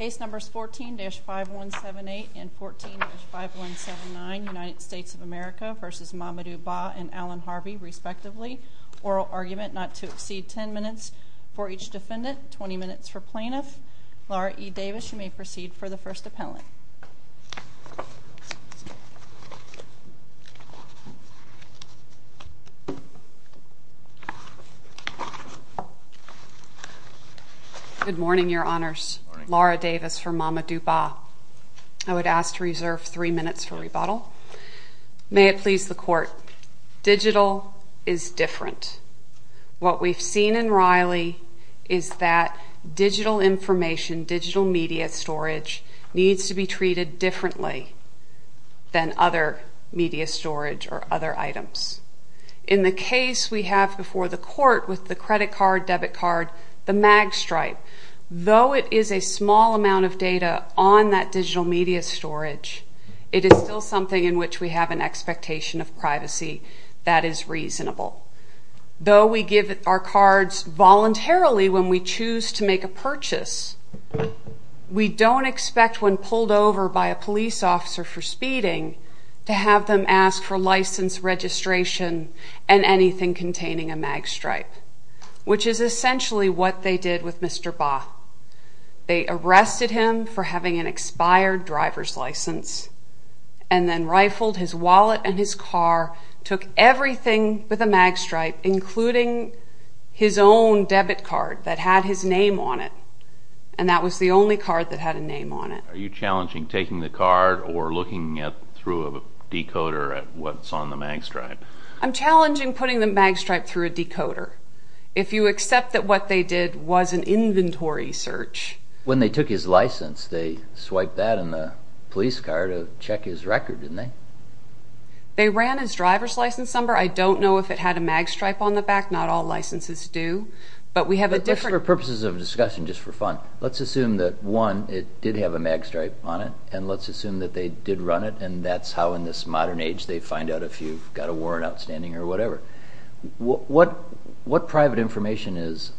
Ace numbers 14-5178 and 14-5179, United States of America v. Mamadou Bah and Allan Harvey, respectively. Oral argument not to exceed 10 minutes for each defendant, 20 minutes for plaintiff. Laura E. Davis, you may proceed for the first appellant. Good morning, Your Honors. Laura Davis for Mamadou Bah. I would ask to reserve three minutes for rebuttal. May it please the Court, digital is different. What we've seen in Riley is that digital information, digital media storage, needs to be treated differently than other media storage or other items. In the case we have before the Court with the credit card, debit card, the mag stripe, though it is a small amount of data on that digital media storage, it is still something in which we have an expectation of privacy that is reasonable. Though we give our cards voluntarily when we choose to make a purchase, we don't expect when pulled over by a police officer for speeding to have them ask for license, registration, and anything containing a mag stripe, which is essentially what they did with Mr. Bah. They arrested him for having an expired driver's license and then rifled his wallet and his car, took everything with a mag stripe, including his own debit card that had his name on it, and that was the only card that had a name on it. Are you challenging taking the card or looking through a decoder at what's on the mag stripe? I'm challenging putting the mag stripe through a decoder. If you accept that what they did was an inventory search... When they took his license, they swiped that in the police car to check his record, didn't they? They ran his driver's license number. I don't know if it had a mag stripe on the back. Not all licenses do, but we have a different... For purposes of discussion, just for fun, let's assume that, one, it did have a mag stripe on it, and let's assume that they did run it, and that's how in this modern age they find out if you've got a warrant outstanding or whatever. What private information is...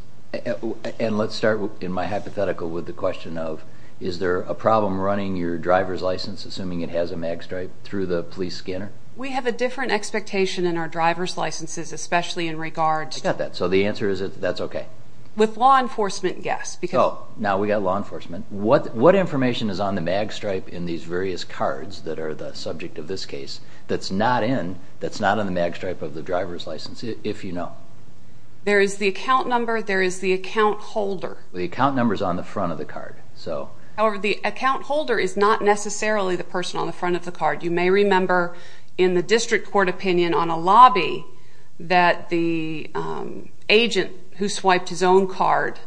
And let's start in my hypothetical with the question of is there a problem running your driver's license, assuming it has a mag stripe, through the police scanner? We have a different expectation in our driver's licenses, especially in regard to... I got that. So the answer is that that's okay. With law enforcement, yes. Now we've got law enforcement. What information is on the mag stripe in these various cards that are the subject of this case that's not on the mag stripe of the driver's license, if you know? There is the account number. There is the account holder. The account number is on the front of the card. However, the account holder is not necessarily the person on the front of the card. You may remember in the district court opinion on a lobby that the agent who swiped his own card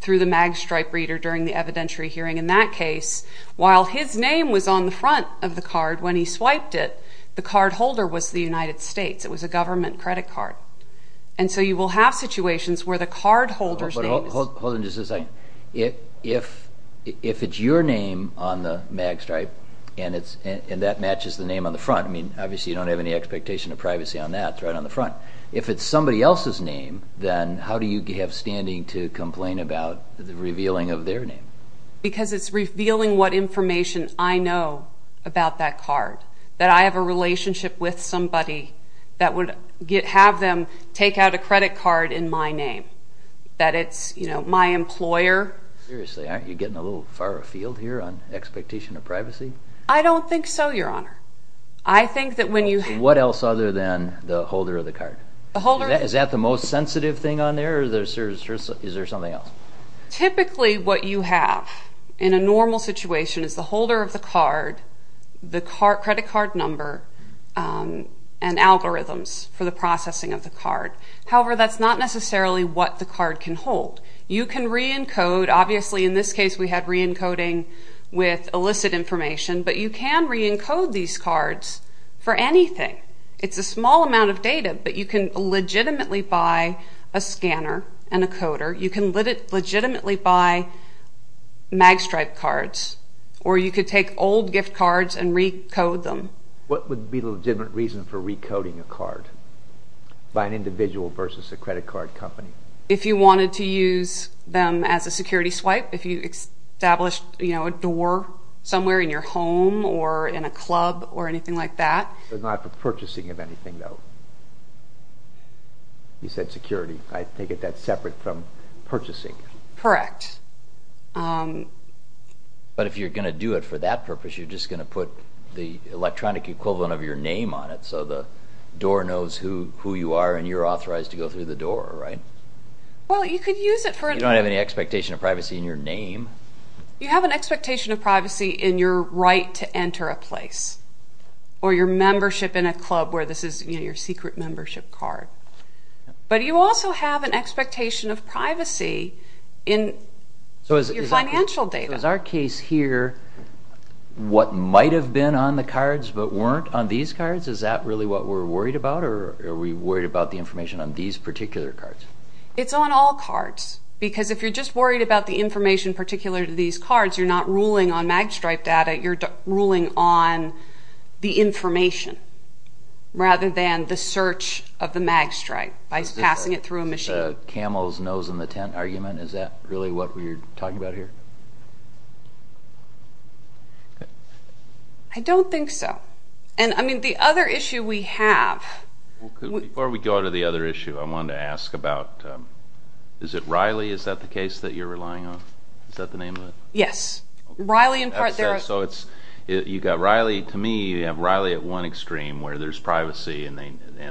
through the mag stripe reader during the evidentiary hearing in that case, while his name was on the front of the card when he swiped it, the card holder was the United States. It was a government credit card. And so you will have situations where the card holder's name is... Hold on just a second. If it's your name on the mag stripe and that matches the name on the front, I mean, obviously you don't have any expectation of privacy on that. It's right on the front. If it's somebody else's name, then how do you have standing to complain about the revealing of their name? Because it's revealing what information I know about that card, that I have a relationship with somebody that would have them take out a credit card in my name, that it's my employer. Seriously, aren't you getting a little far afield here on expectation of privacy? I don't think so, Your Honor. I think that when you... What else other than the holder of the card? Is that the most sensitive thing on there, or is there something else? Typically what you have in a normal situation is the holder of the card, the credit card number, and algorithms for the processing of the card. However, that's not necessarily what the card can hold. You can re-encode. Obviously in this case we had re-encoding with illicit information, but you can re-encode these cards for anything. It's a small amount of data, but you can legitimately buy a scanner and a coder. You can legitimately buy mag stripe cards, or you could take old gift cards and re-code them. What would be the legitimate reason for re-coding a card by an individual versus a credit card company? If you wanted to use them as a security swipe, if you established a door somewhere in your home, or in a club, or anything like that. But not for purchasing of anything, though? You said security. I take it that's separate from purchasing. Correct. But if you're going to do it for that purpose, you're just going to put the electronic equivalent of your name on it so the door knows who you are, and you're authorized to go through the door, right? Well, you could use it for... You don't have any expectation of privacy in your name. You have an expectation of privacy in your right to enter a place, or your membership in a club, where this is your secret membership card. But you also have an expectation of privacy in your financial data. Is our case here what might have been on the cards but weren't on these cards? Is that really what we're worried about, or are we worried about the information on these particular cards? It's on all cards, because if you're just worried about the information particular to these cards, you're not ruling on mag stripe data, you're ruling on the information, rather than the search of the mag stripe by passing it through a machine. Is this a camel's nose in the tent argument? Is that really what we're talking about here? I don't think so. The other issue we have... Before we go to the other issue, I wanted to ask about... Is it Riley? Is that the case that you're relying on? Is that the name of it? Yes. Riley, in part, there are... You've got Riley. To me, you have Riley at one extreme, where there's privacy, and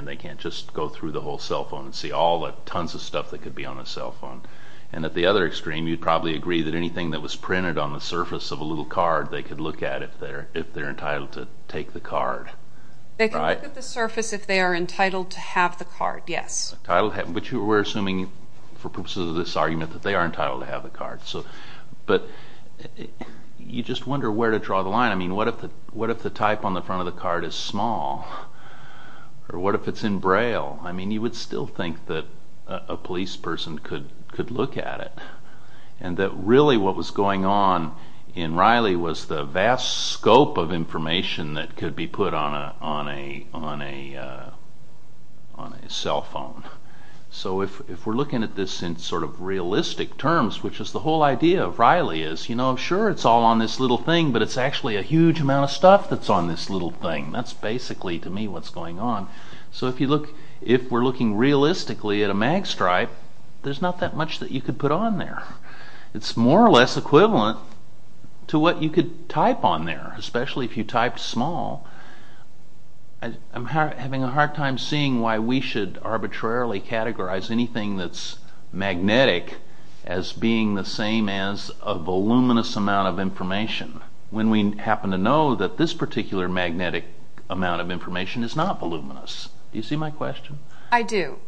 they can't just go through the whole cell phone and see all the tons of stuff that could be on a cell phone. And at the other extreme, you'd probably agree that anything that was printed on the surface of a little card, they could look at if they're entitled to take the card. They can look at the surface if they are entitled to have the card, yes. But we're assuming, for purposes of this argument, that they are entitled to have the card. But you just wonder where to draw the line. I mean, what if the type on the front of the card is small? Or what if it's in Braille? I mean, you would still think that a police person could look at it, and that really what was going on in Riley was the vast scope of information that could be put on a cell phone. So if we're looking at this in sort of realistic terms, which is the whole idea of Riley is, you know, sure, it's all on this little thing, but it's actually a huge amount of stuff that's on this little thing. That's basically, to me, what's going on. So if we're looking realistically at a mag stripe, there's not that much that you could put on there. It's more or less equivalent to what you could type on there, especially if you typed small. I'm having a hard time seeing why we should arbitrarily categorize anything that's magnetic as being the same as a voluminous amount of information when we happen to know that this particular magnetic amount of information is not voluminous. Do you see my question? I do.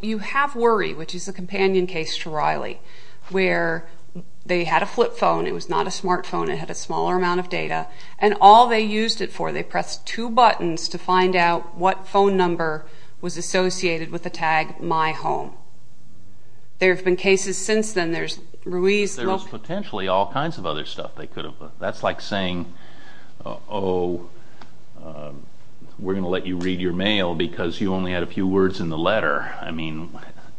You have worry, which is a companion case to Riley, where they had a flip phone. It was not a smartphone. It had a smaller amount of data. And all they used it for, they pressed two buttons to find out what phone number was associated with the tag My Home. There have been cases since then. There's Ruiz... There's potentially all kinds of other stuff they could have put. That's like saying, because you only had a few words in the letter.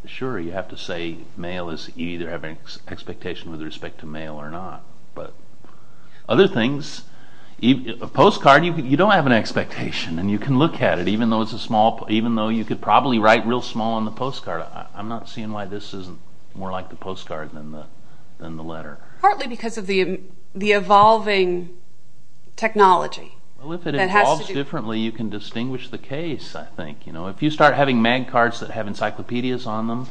Sure, you have to say mail is... You either have an expectation with respect to mail or not. But other things... A postcard, you don't have an expectation, and you can look at it, even though you could probably write real small on the postcard. I'm not seeing why this isn't more like the postcard than the letter. Partly because of the evolving technology. Well, if it evolves differently, you can distinguish the case, I think. If you start having MagCards that have encyclopedias on them,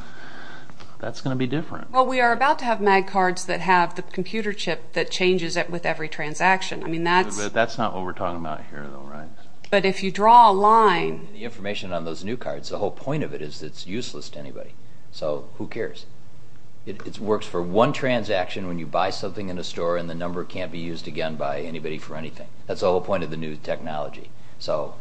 that's going to be different. Well, we are about to have MagCards that have the computer chip that changes it with every transaction. That's not what we're talking about here, though, right? But if you draw a line... The information on those new cards, the whole point of it is it's useless to anybody. So, who cares? It works for one transaction when you buy something in a store and the number can't be used again by anybody for anything. That's the whole point of the new technology. So,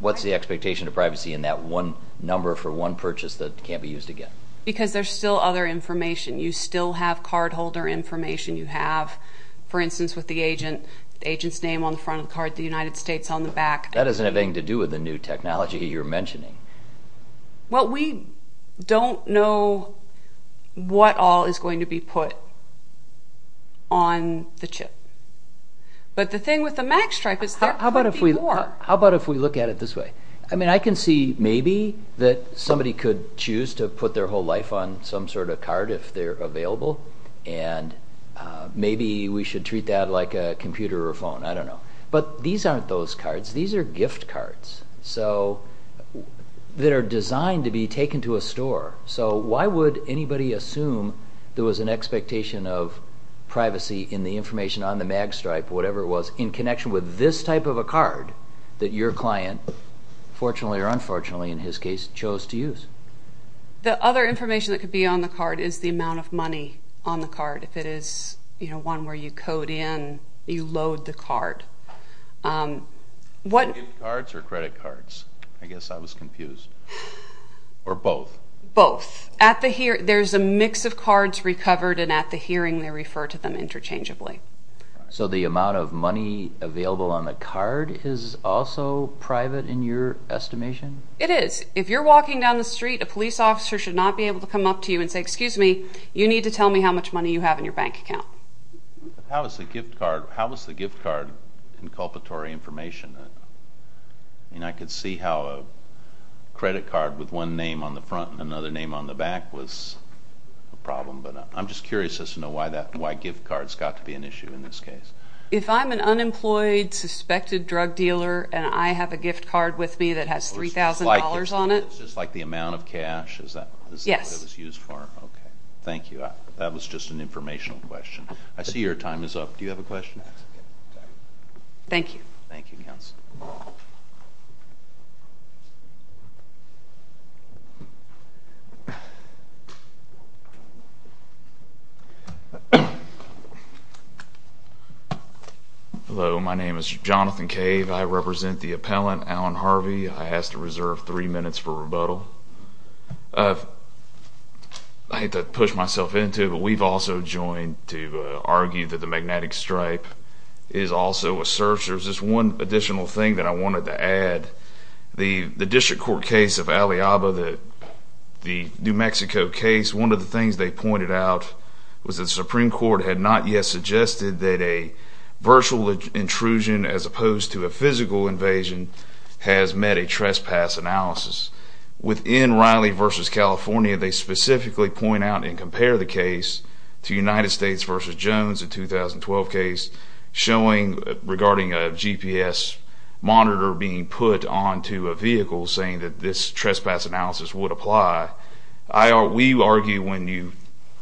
what's the expectation of privacy in that one number for one purchase that can't be used again? Because there's still other information. You still have cardholder information. You have, for instance, with the agent, the agent's name on the front of the card, the United States on the back. That doesn't have anything to do with the new technology you're mentioning. Well, we don't know what all is going to be put on the chip. But the thing with the MagStripe is there could be more. How about if we look at it this way? I mean, I can see maybe that somebody could choose to put their whole life on some sort of card if they're available, and maybe we should treat that like a computer or a phone. I don't know. But these aren't those cards. These are gift cards that are designed to be taken to a store. So why would anybody assume there was an expectation of privacy in the information on the MagStripe, whatever it was, in connection with this type of a card that your client, fortunately or unfortunately in his case, chose to use? The other information that could be on the card is the amount of money on the card, if it is one where you code in, you load the card. Gift cards or credit cards? I guess I was confused. Or both? Both. There's a mix of cards recovered, and at the hearing they refer to them interchangeably. So the amount of money available on the card is also private in your estimation? It is. If you're walking down the street, a police officer should not be able to come up to you and say, excuse me, you need to tell me how much money you have in your bank account. How is the gift card inculpatory information? I mean, I could see how a credit card with one name on the front and another name on the back was a problem, but I'm just curious as to why gift cards got to be an issue in this case. If I'm an unemployed, suspected drug dealer and I have a gift card with me that has $3,000 on it? It's just like the amount of cash? Yes. Is that what it was used for? Okay. Thank you. That was just an informational question. I see your time is up. Do you have a question? Yes. Thank you. Thank you, Counsel. Hello. My name is Jonathan Cave. I represent the appellant, Alan Harvey. I ask to reserve three minutes for rebuttal. I hate to push myself into it, but we've also joined to argue that the magnetic stripe is also a search. There's just one additional thing that I wanted to add. The district court case of Aliaba, the New Mexico case, one of the things they pointed out was the Supreme Court had not yet suggested that a virtual intrusion as opposed to a physical invasion has met a trespass analysis. Within Riley v. California, they specifically point out and compare the case to United States v. Jones, a 2012 case regarding a GPS monitor being put onto a vehicle, saying that this trespass analysis would apply. We argue when you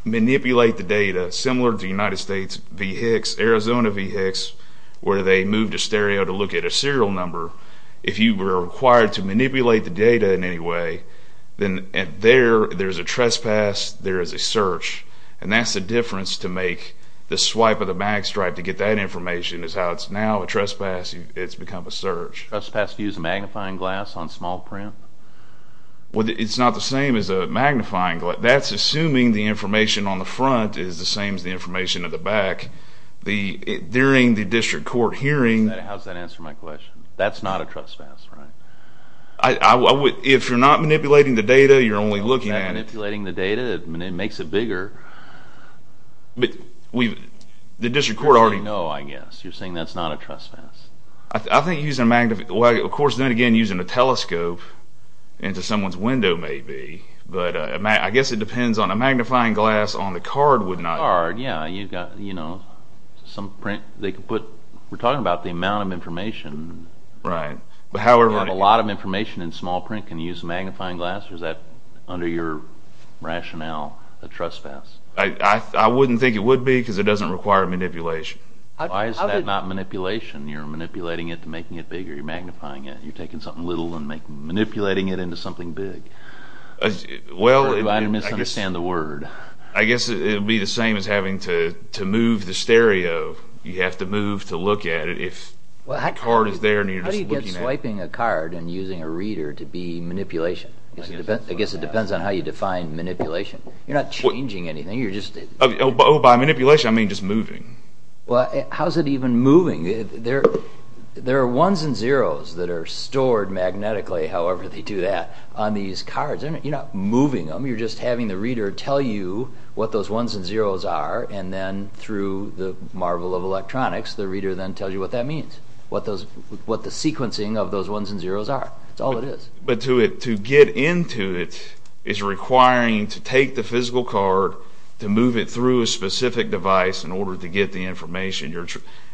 manipulate the data, similar to United States v. Hicks, Arizona v. Hicks, where they moved a stereo to look at a serial number, if you were required to manipulate the data in any way, then there is a trespass, there is a search, and that's the difference to make the swipe of the mag stripe to get that information is how it's now a trespass, it's become a search. Trespass view is a magnifying glass on small print? It's not the same as a magnifying glass. That's assuming the information on the front is the same as the information at the back. During the district court hearing... How does that answer my question? That's not a trespass, right? If you're not manipulating the data, you're only looking at... If you're not manipulating the data, it makes it bigger. But the district court already... You already know, I guess. You're saying that's not a trespass. I think using a magnifying... Of course, then again, using a telescope into someone's window may be, but I guess it depends on... A magnifying glass on the card would not... On the card, yeah, you've got, you know, some print, they could put... We're talking about the amount of information. Right. A lot of information in small print can use a magnifying glass, or is that under your rationale, a trespass? I wouldn't think it would be because it doesn't require manipulation. Why is that not manipulation? You're manipulating it to make it bigger. You're magnifying it. You're taking something little and manipulating it into something big. Well, I guess... Or do I misunderstand the word? I guess it would be the same as having to move the stereo. You have to move to look at it if the card is there and you're just looking at it. How do you get swiping a card and using a reader to be manipulation? I guess it depends on how you define manipulation. You're not changing anything, you're just... By manipulation, I mean just moving. How is it even moving? There are ones and zeros that are stored magnetically, however they do that, on these cards. You're not moving them. You're just having the reader tell you what those ones and zeros are, and then through the marvel of electronics, the reader then tells you what that means, what the sequencing of those ones and zeros are. That's all it is. But to get into it is requiring to take the physical card, to move it through a specific device in order to get the information.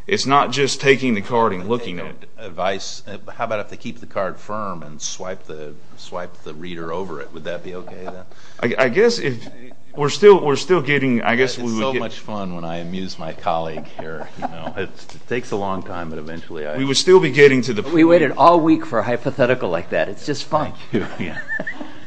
It's not just taking the card and looking at it. Advice. How about if they keep the card firm and swipe the reader over it? Would that be okay? I guess we're still getting... It's so much fun when I amuse my colleague here. It takes a long time, but eventually... We would still be getting to the... We waited all week for a hypothetical like that. It's just fun.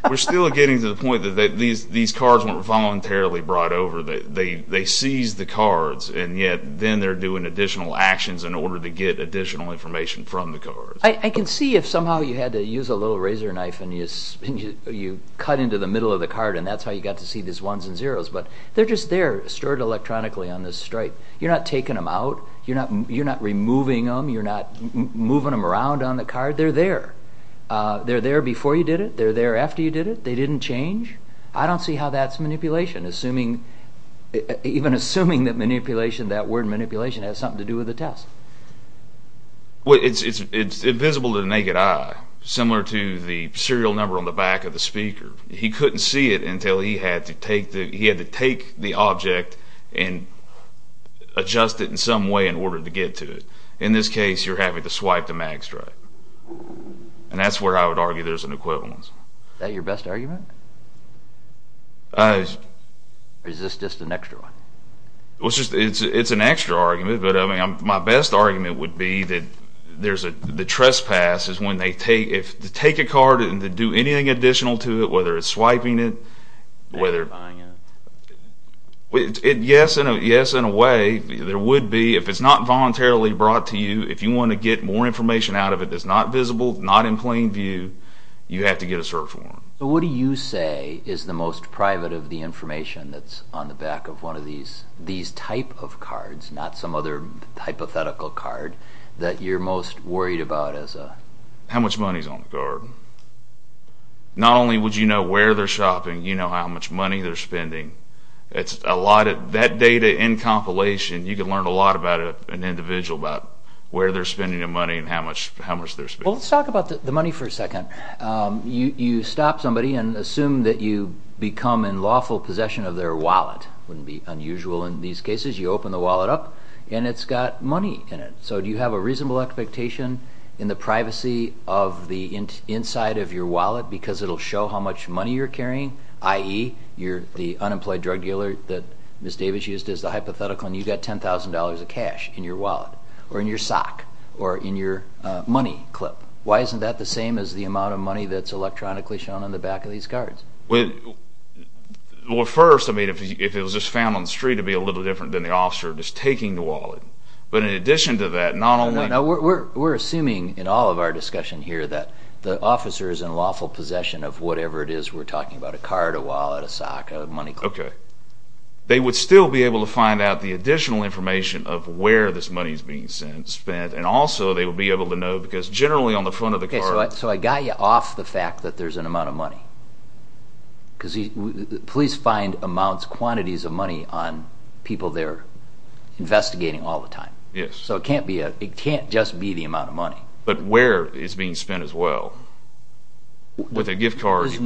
We're still getting to the point that these cards weren't voluntarily brought over. They seized the cards, and yet then they're doing additional actions in order to get additional information from the cards. I can see if somehow you had to use a little razor knife and you cut into the middle of the card, and that's how you got to see these ones and zeros, but they're just there stored electronically on this stripe. You're not taking them out. You're not removing them. You're not moving them around on the card. They're there. They're there before you did it. They're there after you did it. They didn't change. I don't see how that's manipulation, even assuming that that word manipulation has something to do with the test. It's invisible to the naked eye, similar to the serial number on the back of the speaker. He couldn't see it until he had to take the object and adjust it in some way in order to get to it. In this case, you're having to swipe the mag stripe, and that's where I would argue there's an equivalence. Is that your best argument? Or is this just an extra one? It's an extra argument, but my best argument would be that the trespass is when they take a card and do anything additional to it, whether it's swiping it, whether it's buying it. If you want to get more information out of it that's not visible, not in plain view, you have to get a search warrant. What do you say is the most private of the information that's on the back of one of these type of cards, not some other hypothetical card, that you're most worried about? How much money is on the card? Not only would you know where they're shopping, you know how much money they're spending. That data in compilation, you can learn a lot about an individual, about where they're spending their money and how much they're spending. Let's talk about the money for a second. You stop somebody and assume that you become in lawful possession of their wallet. It wouldn't be unusual in these cases. You open the wallet up, and it's got money in it. Do you have a reasonable expectation in the privacy of the inside of your wallet because it'll show how much money you're carrying, i.e., you're the unemployed drug dealer that Ms. Davis used as the hypothetical and you've got $10,000 of cash in your wallet or in your sock or in your money clip? Why isn't that the same as the amount of money that's electronically shown on the back of these cards? First, if it was just found on the street, it would be a little different than the officer just taking the wallet. But in addition to that, not only— We're assuming in all of our discussion here that the officer is in lawful possession of whatever it is we're talking about, a card, a wallet, a sock, a money clip. Okay. They would still be able to find out the additional information of where this money is being spent, and also they would be able to know because generally on the front of the card— Okay, so I got you off the fact that there's an amount of money because police find amounts, quantities of money on people they're investigating all the time. Yes. So it can't just be the amount of money. But where it's being spent as well. With a gift card— There's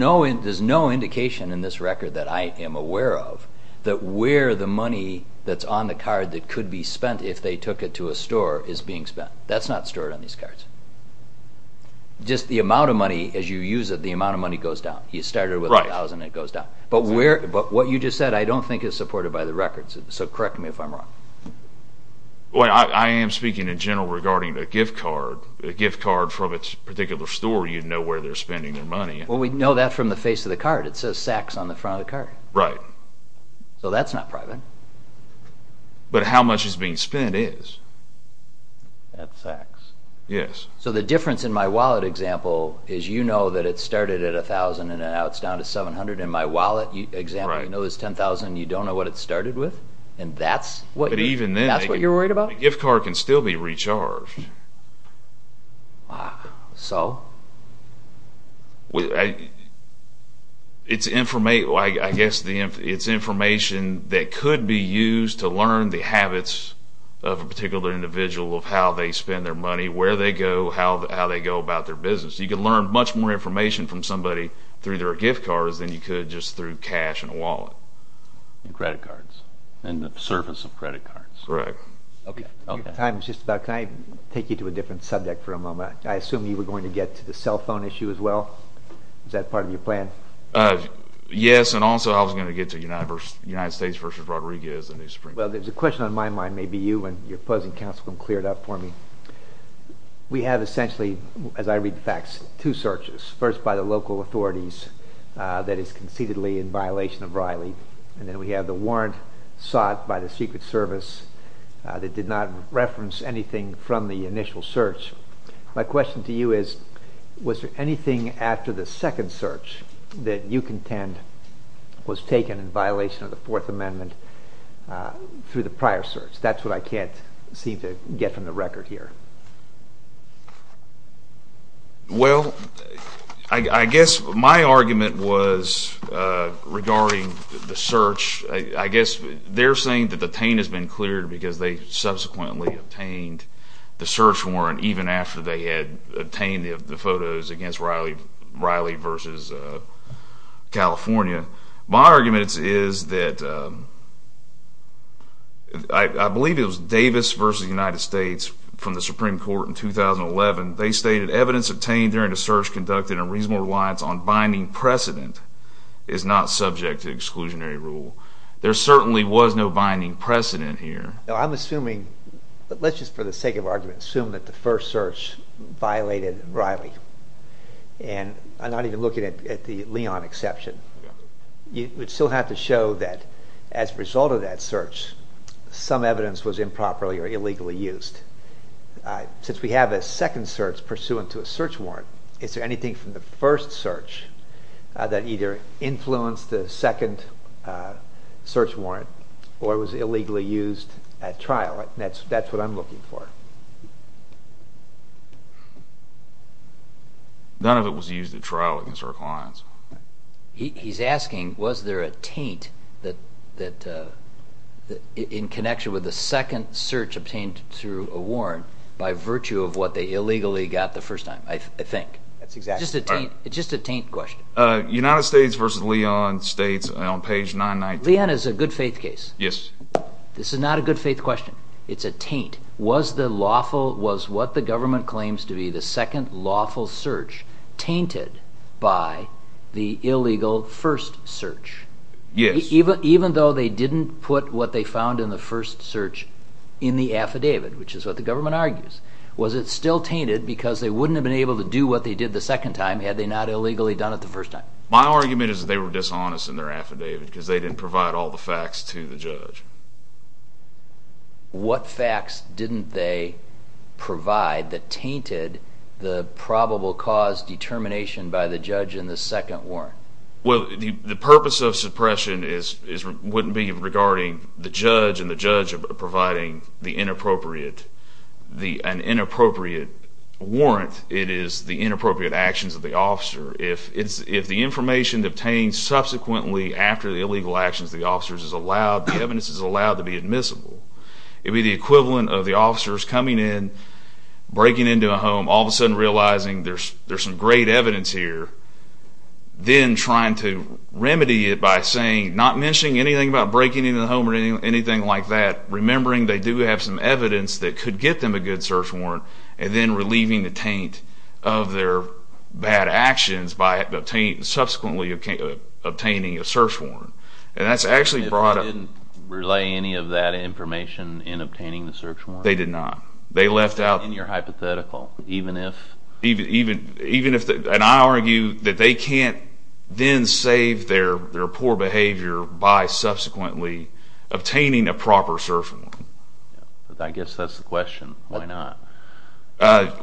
no indication in this record that I am aware of that where the money that's on the card that could be spent if they took it to a store is being spent. That's not stored on these cards. Just the amount of money as you use it, the amount of money goes down. You start it with $1,000, it goes down. But what you just said I don't think is supported by the records, so correct me if I'm wrong. Well, I am speaking in general regarding a gift card. A gift card from a particular store, you'd know where they're spending their money. Well, we'd know that from the face of the card. It says sacks on the front of the card. Right. So that's not private. But how much is being spent is. That's sacks. Yes. So the difference in my wallet example is you know that it started at $1,000 and now it's down to $700. In my wallet example, you know it's $10,000 and you don't know what it started with? And that's what you're worried about? But even then, a gift card can still be recharged. Wow. So? I guess it's information that could be used to learn the habits of a particular individual of how they spend their money, where they go, how they go about their business. You could learn much more information from somebody through their gift cards than you could just through cash and a wallet. And credit cards. And the service of credit cards. Correct. Okay. Your time is just about up. Can I take you to a different subject for a moment? I assume you were going to get to the cell phone issue as well? Is that part of your plan? Yes, and also I was going to get to United States versus Rodriguez. Well, there's a question on my mind. Maybe you and your opposing counsel can clear it up for me. We have essentially, as I read the facts, two searches. First, by the local authorities that is conceitedly in violation of Riley. And then we have the warrant sought by the Secret Service that did not reference anything from the initial search. My question to you is, was there anything after the second search that you contend was taken in violation of the Fourth Amendment through the prior search? That's what I can't seem to get from the record here. Well, I guess my argument was regarding the search. I guess they're saying that the taint has been cleared because they subsequently obtained the search warrant even after they had obtained the photos against Riley versus California. My argument is that I believe it was Davis versus the United States from the Supreme Court in 2011. They stated, evidence obtained during the search conducted in reasonable reliance on binding precedent is not subject to exclusionary rule. There certainly was no binding precedent here. I'm assuming, let's just for the sake of argument, assume that the first search violated Riley. And I'm not even looking at the Leon exception. You would still have to show that as a result of that search some evidence was improperly or illegally used. Since we have a second search pursuant to a search warrant, is there anything from the first search that either influenced the second search warrant or was illegally used at trial? That's what I'm looking for. None of it was used at trial against our clients. He's asking was there a taint in connection with the second search obtained through a warrant by virtue of what they illegally got the first time, I think. Just a taint question. United States versus Leon states on page 990. Leon is a good faith case. This is not a good faith question. It's a taint. Was what the government claims to be the second lawful search tainted by the illegal first search? Yes. Even though they didn't put what they found in the first search in the affidavit, which is what the government argues, was it still tainted because they wouldn't have been able to do what they did the second time had they not illegally done it the first time? My argument is that they were dishonest in their affidavit because they didn't provide all the facts to the judge. What facts didn't they provide that tainted the probable cause determination by the judge in the second warrant? The purpose of suppression wouldn't be regarding the judge and the judge providing an inappropriate warrant. It is the inappropriate actions of the officer. If the information obtained subsequently after the illegal actions of the officers is allowed, the evidence is allowed to be admissible, it would be the equivalent of the officers coming in, breaking into a home, all of a sudden realizing there's some great evidence here, then trying to remedy it by saying, not mentioning anything about breaking into the home or anything like that, remembering they do have some evidence that could get them a good search warrant, and then relieving the taint of their bad actions by subsequently obtaining a search warrant. If they didn't relay any of that information in obtaining the search warrant? They did not. They left out... In your hypothetical, even if... Even if... And I argue that they can't then save their poor behavior by subsequently obtaining a proper search warrant. I guess that's the question. Why not?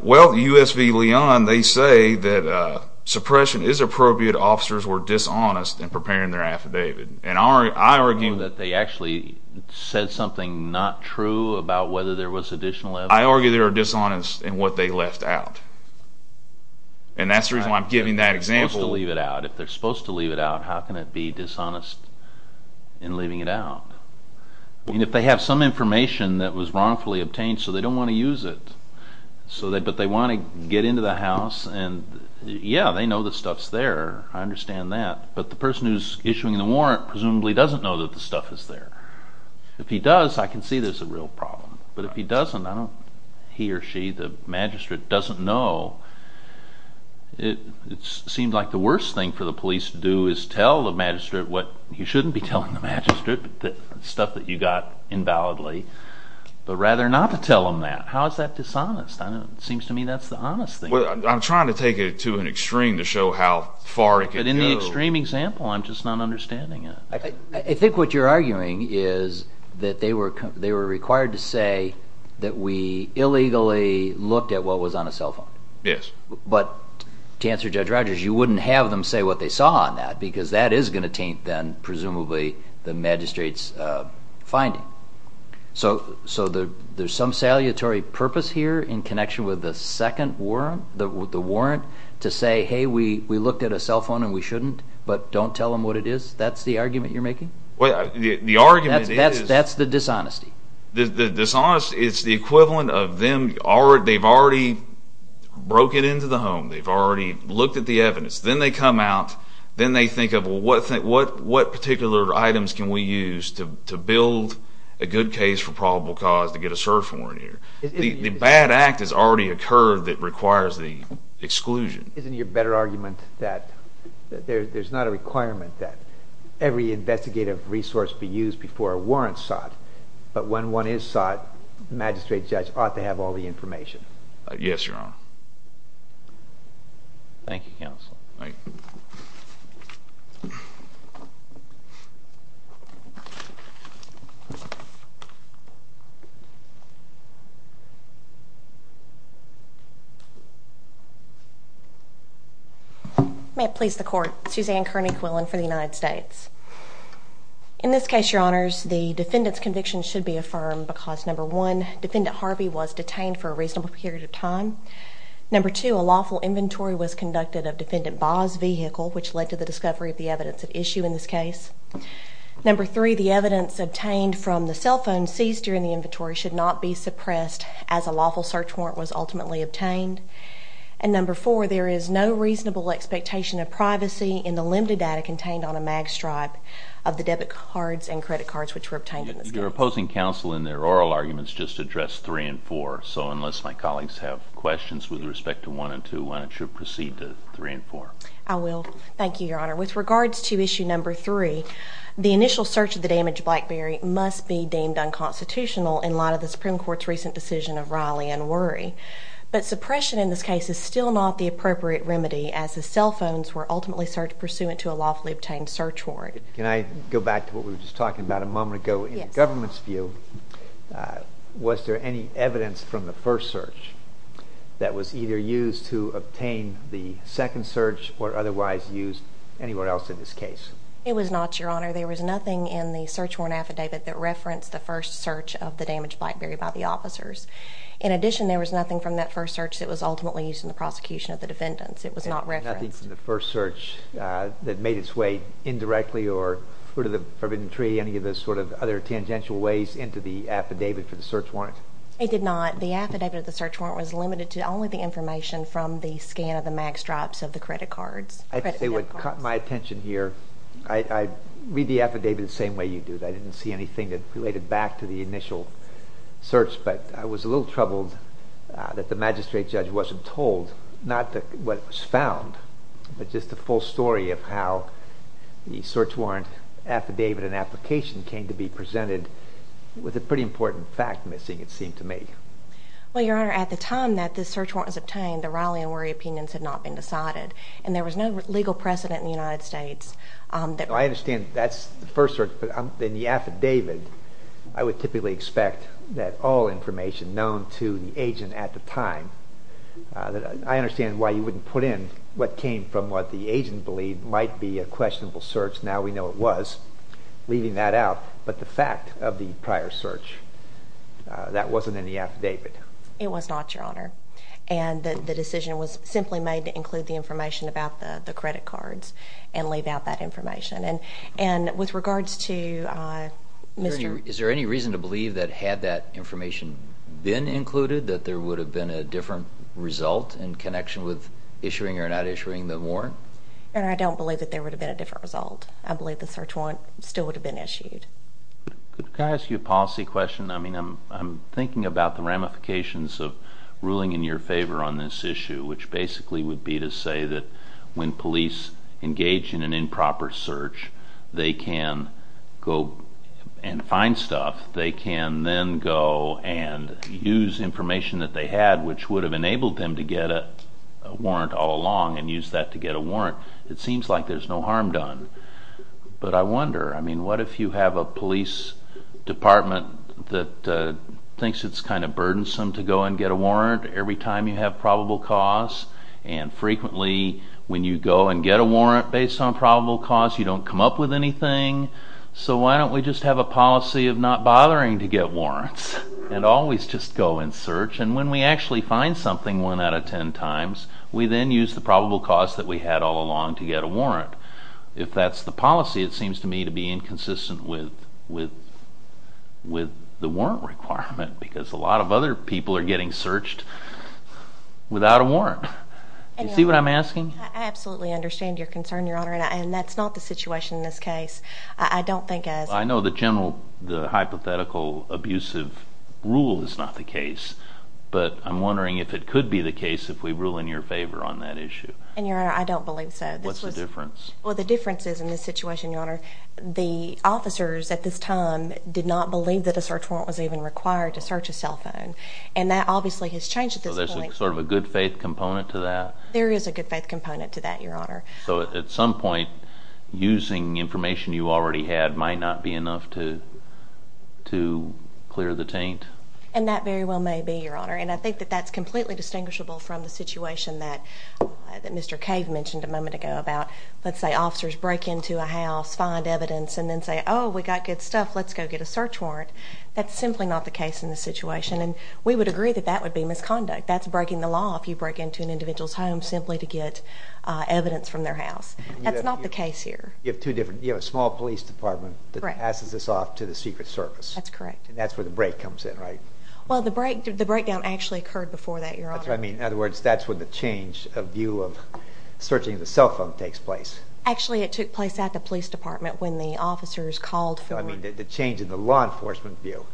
Well, U.S. v. Leon, they say that suppression is appropriate. They argued officers were dishonest in preparing their affidavit. And I argue... That they actually said something not true about whether there was additional evidence? I argue they were dishonest in what they left out. And that's the reason why I'm giving that example. If they're supposed to leave it out, how can it be dishonest in leaving it out? And if they have some information that was wrongfully obtained, so they don't want to use it, but they want to get into the house and, yeah, they know the stuff's there. I understand that. But the person who's issuing the warrant presumably doesn't know that the stuff is there. If he does, I can see there's a real problem. But if he doesn't, I don't... He or she, the magistrate, doesn't know. It seems like the worst thing for the police to do is tell the magistrate what... You shouldn't be telling the magistrate the stuff that you got invalidly, but rather not to tell him that. How is that dishonest? It seems to me that's the honest thing. I'm trying to take it to an extreme to show how far it can go. But in the extreme example, I'm just not understanding it. I think what you're arguing is that they were required to say that we illegally looked at what was on a cell phone. Yes. But to answer Judge Rogers, you wouldn't have them say what they saw on that because that is going to taint then presumably the magistrate's finding. So there's some salutary purpose here in connection with the second warrant, the warrant to say, hey, we looked at a cell phone and we shouldn't, but don't tell them what it is? That's the argument you're making? The argument is... That's the dishonesty. The dishonesty is the equivalent of them... They've already broken into the home. They've already looked at the evidence. Then they come out. Then they think of, well, what particular items can we use to build a good case for probable cause to get a search warrant here? The bad act has already occurred that requires the exclusion. Isn't your better argument that there's not a requirement that every investigative resource be used before a warrant's sought, but when one is sought, the magistrate judge ought to have all the information? Yes, Your Honor. Thank you, Counsel. Thank you. May it please the Court. Suzanne Kearney Quillen for the United States. In this case, Your Honors, the defendant's conviction should be affirmed because, number one, Defendant Harvey was detained for a reasonable period of time. Number two, a lawful inventory was conducted of Defendant Baugh's vehicle, which led to the discovery of the evidence at issue in this case. Number three, the evidence obtained from the cell phone seized during the inventory should not be suppressed as a lawful search warrant was ultimately obtained. And number four, there is no reasonable expectation of privacy in the limited data contained on a mag stripe of the debit cards and credit cards which were obtained in this case. Your opposing counsel in their oral arguments just addressed three and four, so unless my colleagues have questions with respect to one and two, why don't you proceed to three and four. I will. Thank you, Your Honor. With regards to issue number three, the initial search of the damaged BlackBerry must be deemed unconstitutional in light of the Supreme Court's recent decision of Riley and Worry, but suppression in this case is still not the appropriate remedy as the cell phones were ultimately pursued to a lawfully obtained search warrant. Can I go back to what we were just talking about a moment ago? Yes. In the government's view, was there any evidence from the first search that was either used to obtain the second search or otherwise used anywhere else in this case? It was not, Your Honor. There was nothing in the search warrant affidavit that referenced the first search of the damaged BlackBerry by the officers. In addition, there was nothing from that first search that was ultimately used in the prosecution of the defendants. It was not referenced. Nothing from the first search that made its way indirectly or through to the forbidden tree, any of the sort of other tangential ways into the affidavit for the search warrant? It did not. The affidavit of the search warrant was limited to only the information from the scan of the mag stripes of the credit cards. It would caught my attention here. I read the affidavit the same way you do. I didn't see anything that related back to the initial search, but I was a little troubled that the magistrate judge wasn't told, not what was found, but just the full story of how the search warrant affidavit and application came to be presented with a pretty important fact missing, it seemed to me. Well, Your Honor, at the time that this search warrant was obtained, the Raleigh and Wherry opinions had not been decided, and there was no legal precedent in the United States. I understand that's the first search, but in the affidavit I would typically expect that all information known to the agent at the time, I understand why you wouldn't put in what came from what the agent believed might be a questionable search. Now we know it was, leaving that out. But the fact of the prior search, that wasn't in the affidavit. It was not, Your Honor. And the decision was simply made to include the information about the credit cards and leave out that information. And with regards to Mr.... Is there any reason to believe that had that information been included that there would have been a different result in connection with issuing or not issuing the warrant? Your Honor, I don't believe that there would have been a different result. I believe the search warrant still would have been issued. Could I ask you a policy question? I'm thinking about the ramifications of ruling in your favor on this issue, which basically would be to say that when police engage in an improper search, they can go and find stuff. They can then go and use information that they had, which would have enabled them to get a warrant all along and use that to get a warrant. It seems like there's no harm done. But I wonder, I mean, what if you have a police department that thinks it's kind of burdensome to go and get a warrant every time you have probable cause, and frequently when you go and get a warrant based on probable cause you don't come up with anything. So why don't we just have a policy of not bothering to get warrants and always just go and search, and when we actually find something one out of ten times, we then use the probable cause that we had all along to get a warrant. If that's the policy, it seems to me to be inconsistent with the warrant requirement because a lot of other people are getting searched without a warrant. Do you see what I'm asking? I absolutely understand your concern, Your Honor, and that's not the situation in this case. I know the hypothetical abusive rule is not the case, but I'm wondering if it could be the case if we rule in your favor on that issue. Your Honor, I don't believe so. What's the difference? Well, the difference is in this situation, Your Honor, the officers at this time did not believe that a search warrant was even required to search a cell phone, and that obviously has changed at this point. So there's sort of a good faith component to that? There is a good faith component to that, Your Honor. So at some point, using information you already had might not be enough to clear the taint? And that very well may be, Your Honor, and I think that that's completely distinguishable from the situation that Mr. Cave mentioned a moment ago about, let's say, officers break into a house, find evidence, and then say, oh, we got good stuff, let's go get a search warrant. That's simply not the case in this situation, and we would agree that that would be misconduct. That's breaking the law if you break into an individual's home simply to get evidence from their house. That's not the case here. You have a small police department that passes this off to the Secret Service. That's correct. And that's where the break comes in, right? Well, the breakdown actually occurred before that, Your Honor. That's what I mean. In other words, that's when the change of view of searching the cell phone takes place. Actually, it took place at the police department when the officers called for... No, I mean the change in the law enforcement view.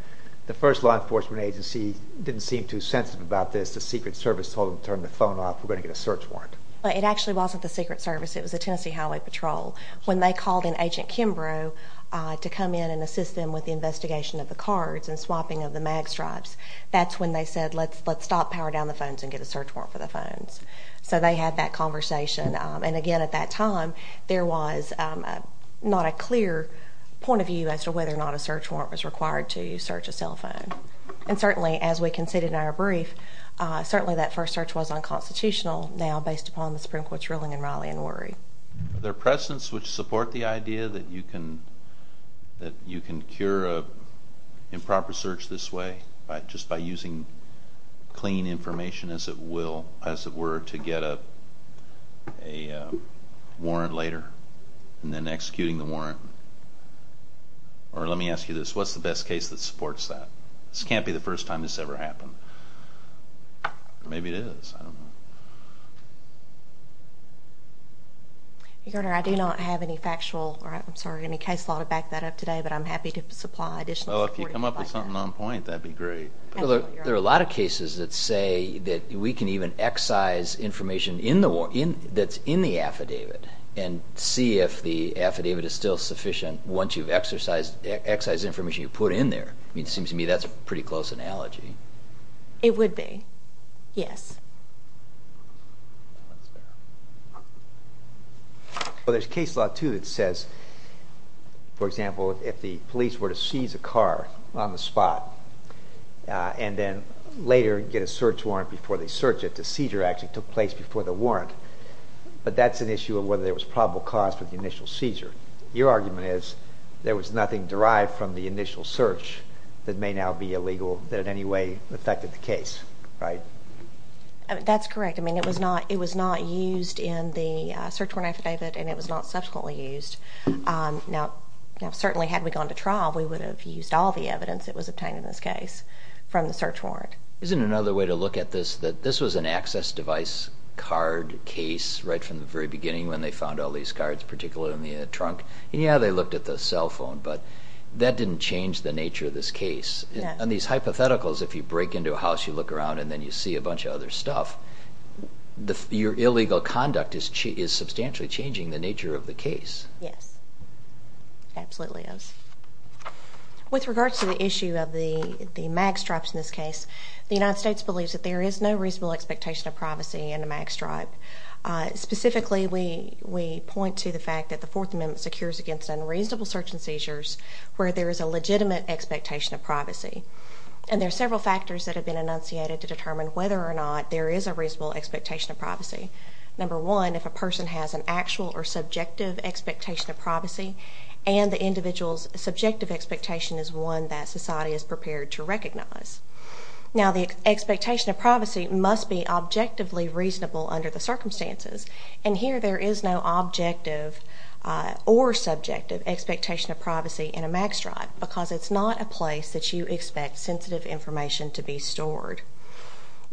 The first law enforcement agency didn't seem too sensitive about this. The Secret Service told them, turn the phone off, we're going to get a search warrant. It actually wasn't the Secret Service. It was the Tennessee Highway Patrol. When they called in Agent Kimbrough to come in and assist them with the investigation of the cards and swapping of the mag stripes, that's when they said, let's stop, power down the phones, and get a search warrant for the phones. So they had that conversation. And, again, at that time, there was not a clear point of view as to whether or not a search warrant was required to search a cell phone. And, certainly, as we conceded in our brief, certainly that first search was unconstitutional now based upon the Supreme Court's ruling in Raleigh and Horry. Are there precedents which support the idea that you can cure an improper search this way just by using clean information, as it were, to get a warrant later and then executing the warrant? Or let me ask you this. What's the best case that supports that? This can't be the first time this ever happened. Maybe it is. I don't know. Your Honor, I do not have any factual or, I'm sorry, any case law to back that up today, but I'm happy to supply additional support if you'd like that. Well, if you come up with something on point, that'd be great. There are a lot of cases that say that we can even excise information that's in the affidavit and see if the affidavit is still sufficient once you've excised information you put in there. It seems to me that's a pretty close analogy. It would be, yes. Well, there's case law, too, that says, for example, if the police were to seize a car on the spot and then later get a search warrant before they search it, the seizure actually took place before the warrant. But that's an issue of whether there was probable cause for the initial seizure. Your argument is there was nothing derived from the initial search that may now be illegal that in any way affected the case, right? That's correct. I mean, it was not used in the search warrant affidavit, and it was not subsequently used. Now, certainly had we gone to trial, we would have used all the evidence that was obtained in this case from the search warrant. Isn't another way to look at this that this was an access device card case right from the very beginning when they found all these cards, particularly in the trunk? And, yeah, they looked at the cell phone, but that didn't change the nature of this case. On these hypotheticals, if you break into a house, you look around, and then you see a bunch of other stuff, your illegal conduct is substantially changing the nature of the case. Yes, it absolutely is. With regard to the issue of the mag stripes in this case, the United States believes that there is no reasonable expectation of privacy in a mag stripe. Specifically, we point to the fact that the Fourth Amendment secures against unreasonable search and seizures where there is a legitimate expectation of privacy. And there are several factors that have been enunciated to determine whether or not there is a reasonable expectation of privacy. Number one, if a person has an actual or subjective expectation of privacy and the individual's subjective expectation is one that society is prepared to recognize. Now, the expectation of privacy must be objectively reasonable under the circumstances, and here there is no objective or subjective expectation of privacy in a mag stripe because it's not a place that you expect sensitive information to be stored.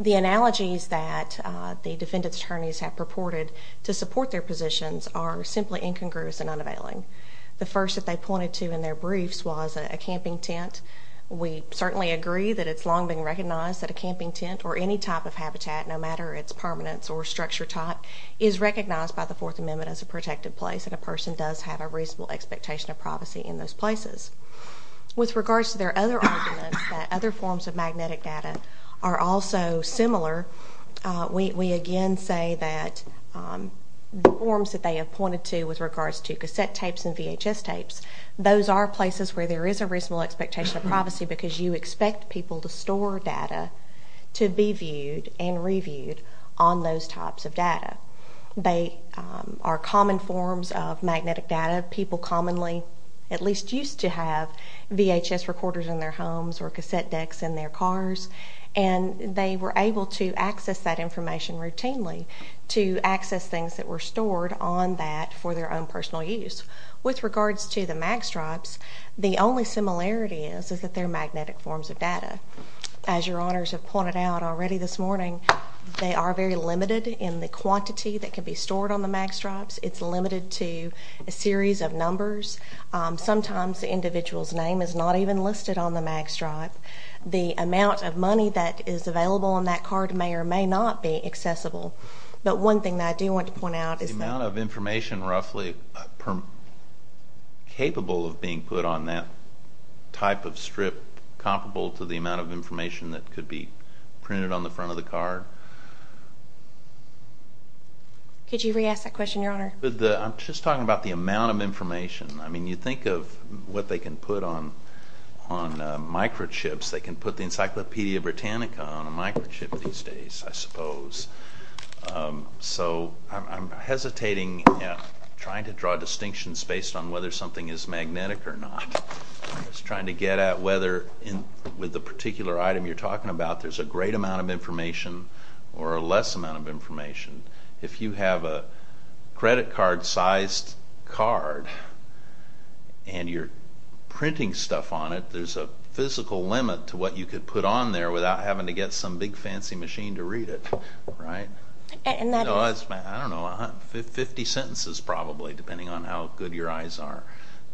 The analogies that the defendant's attorneys have purported to support their positions are simply incongruous and unavailing. The first that they pointed to in their briefs was a camping tent. We certainly agree that it's long been recognized that a camping tent or any type of habitat, no matter its permanence or structure type, is recognized by the Fourth Amendment as a protected place and a person does have a reasonable expectation of privacy in those places. With regards to their other arguments that other forms of magnetic data are also similar, we again say that the forms that they have pointed to with regards to cassette tapes and VHS tapes, those are places where there is a reasonable expectation of privacy because you expect people to store data to be viewed and reviewed on those types of data. They are common forms of magnetic data. People commonly at least used to have VHS recorders in their homes or cassette decks in their cars, and they were able to access that information routinely to access things that were stored on that for their own personal use. With regards to the mag stripes, the only similarity is that they're magnetic forms of data. As your honors have pointed out already this morning, they are very limited in the quantity that can be stored on the mag stripes. It's limited to a series of numbers. Sometimes the individual's name is not even listed on the mag stripe. The amount of money that is available on that card may or may not be accessible. But one thing that I do want to point out is that— The amount of information roughly capable of being put on that type of strip comparable to the amount of information that could be printed on the front of the card? Could you re-ask that question, your honor? I'm just talking about the amount of information. I mean, you think of what they can put on microchips. They can put the Encyclopedia Britannica on a microchip these days, I suppose. So I'm hesitating trying to draw distinctions based on whether something is magnetic or not. I'm just trying to get at whether with the particular item you're talking about there's a great amount of information or a less amount of information. If you have a credit card-sized card and you're printing stuff on it, there's a physical limit to what you could put on there without having to get some big fancy machine to read it, right? I don't know, 50 sentences probably, depending on how good your eyes are.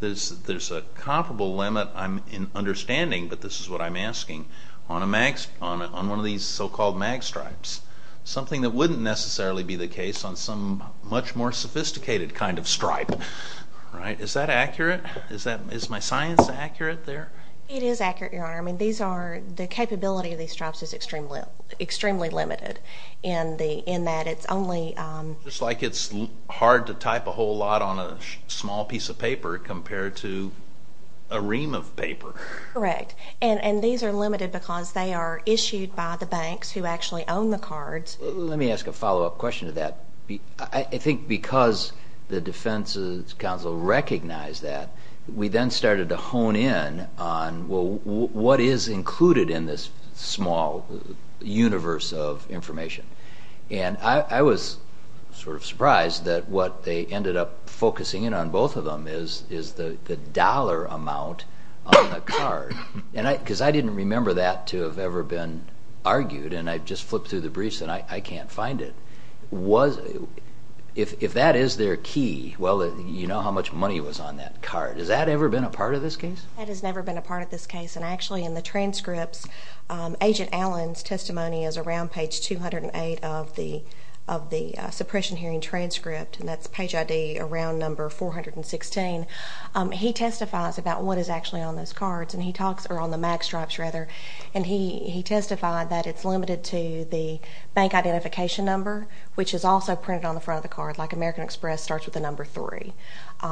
There's a comparable limit, I'm understanding, but this is what I'm asking, on one of these so-called mag stripes. Something that wouldn't necessarily be the case on some much more sophisticated kind of stripe, right? Is that accurate? Is my science accurate there? It is accurate, your honor. I mean, the capability of these stripes is extremely limited in that it's only- It's like it's hard to type a whole lot on a small piece of paper compared to a ream of paper. Let me ask a follow-up question to that. I think because the defense counsel recognized that, we then started to hone in on what is included in this small universe of information. And I was sort of surprised that what they ended up focusing in on, both of them, is the dollar amount on the card. Because I didn't remember that to have ever been argued, and I just flipped through the briefs and I can't find it. If that is their key, well, you know how much money was on that card. Has that ever been a part of this case? That has never been a part of this case, and actually in the transcripts, Agent Allen's testimony is around page 208 of the suppression hearing transcript, and that's page ID around number 416. He testifies about what is actually on those cards, or on the MAC stripes, rather, and he testified that it's limited to the bank identification number, which is also printed on the front of the card, like American Express starts with the number 3.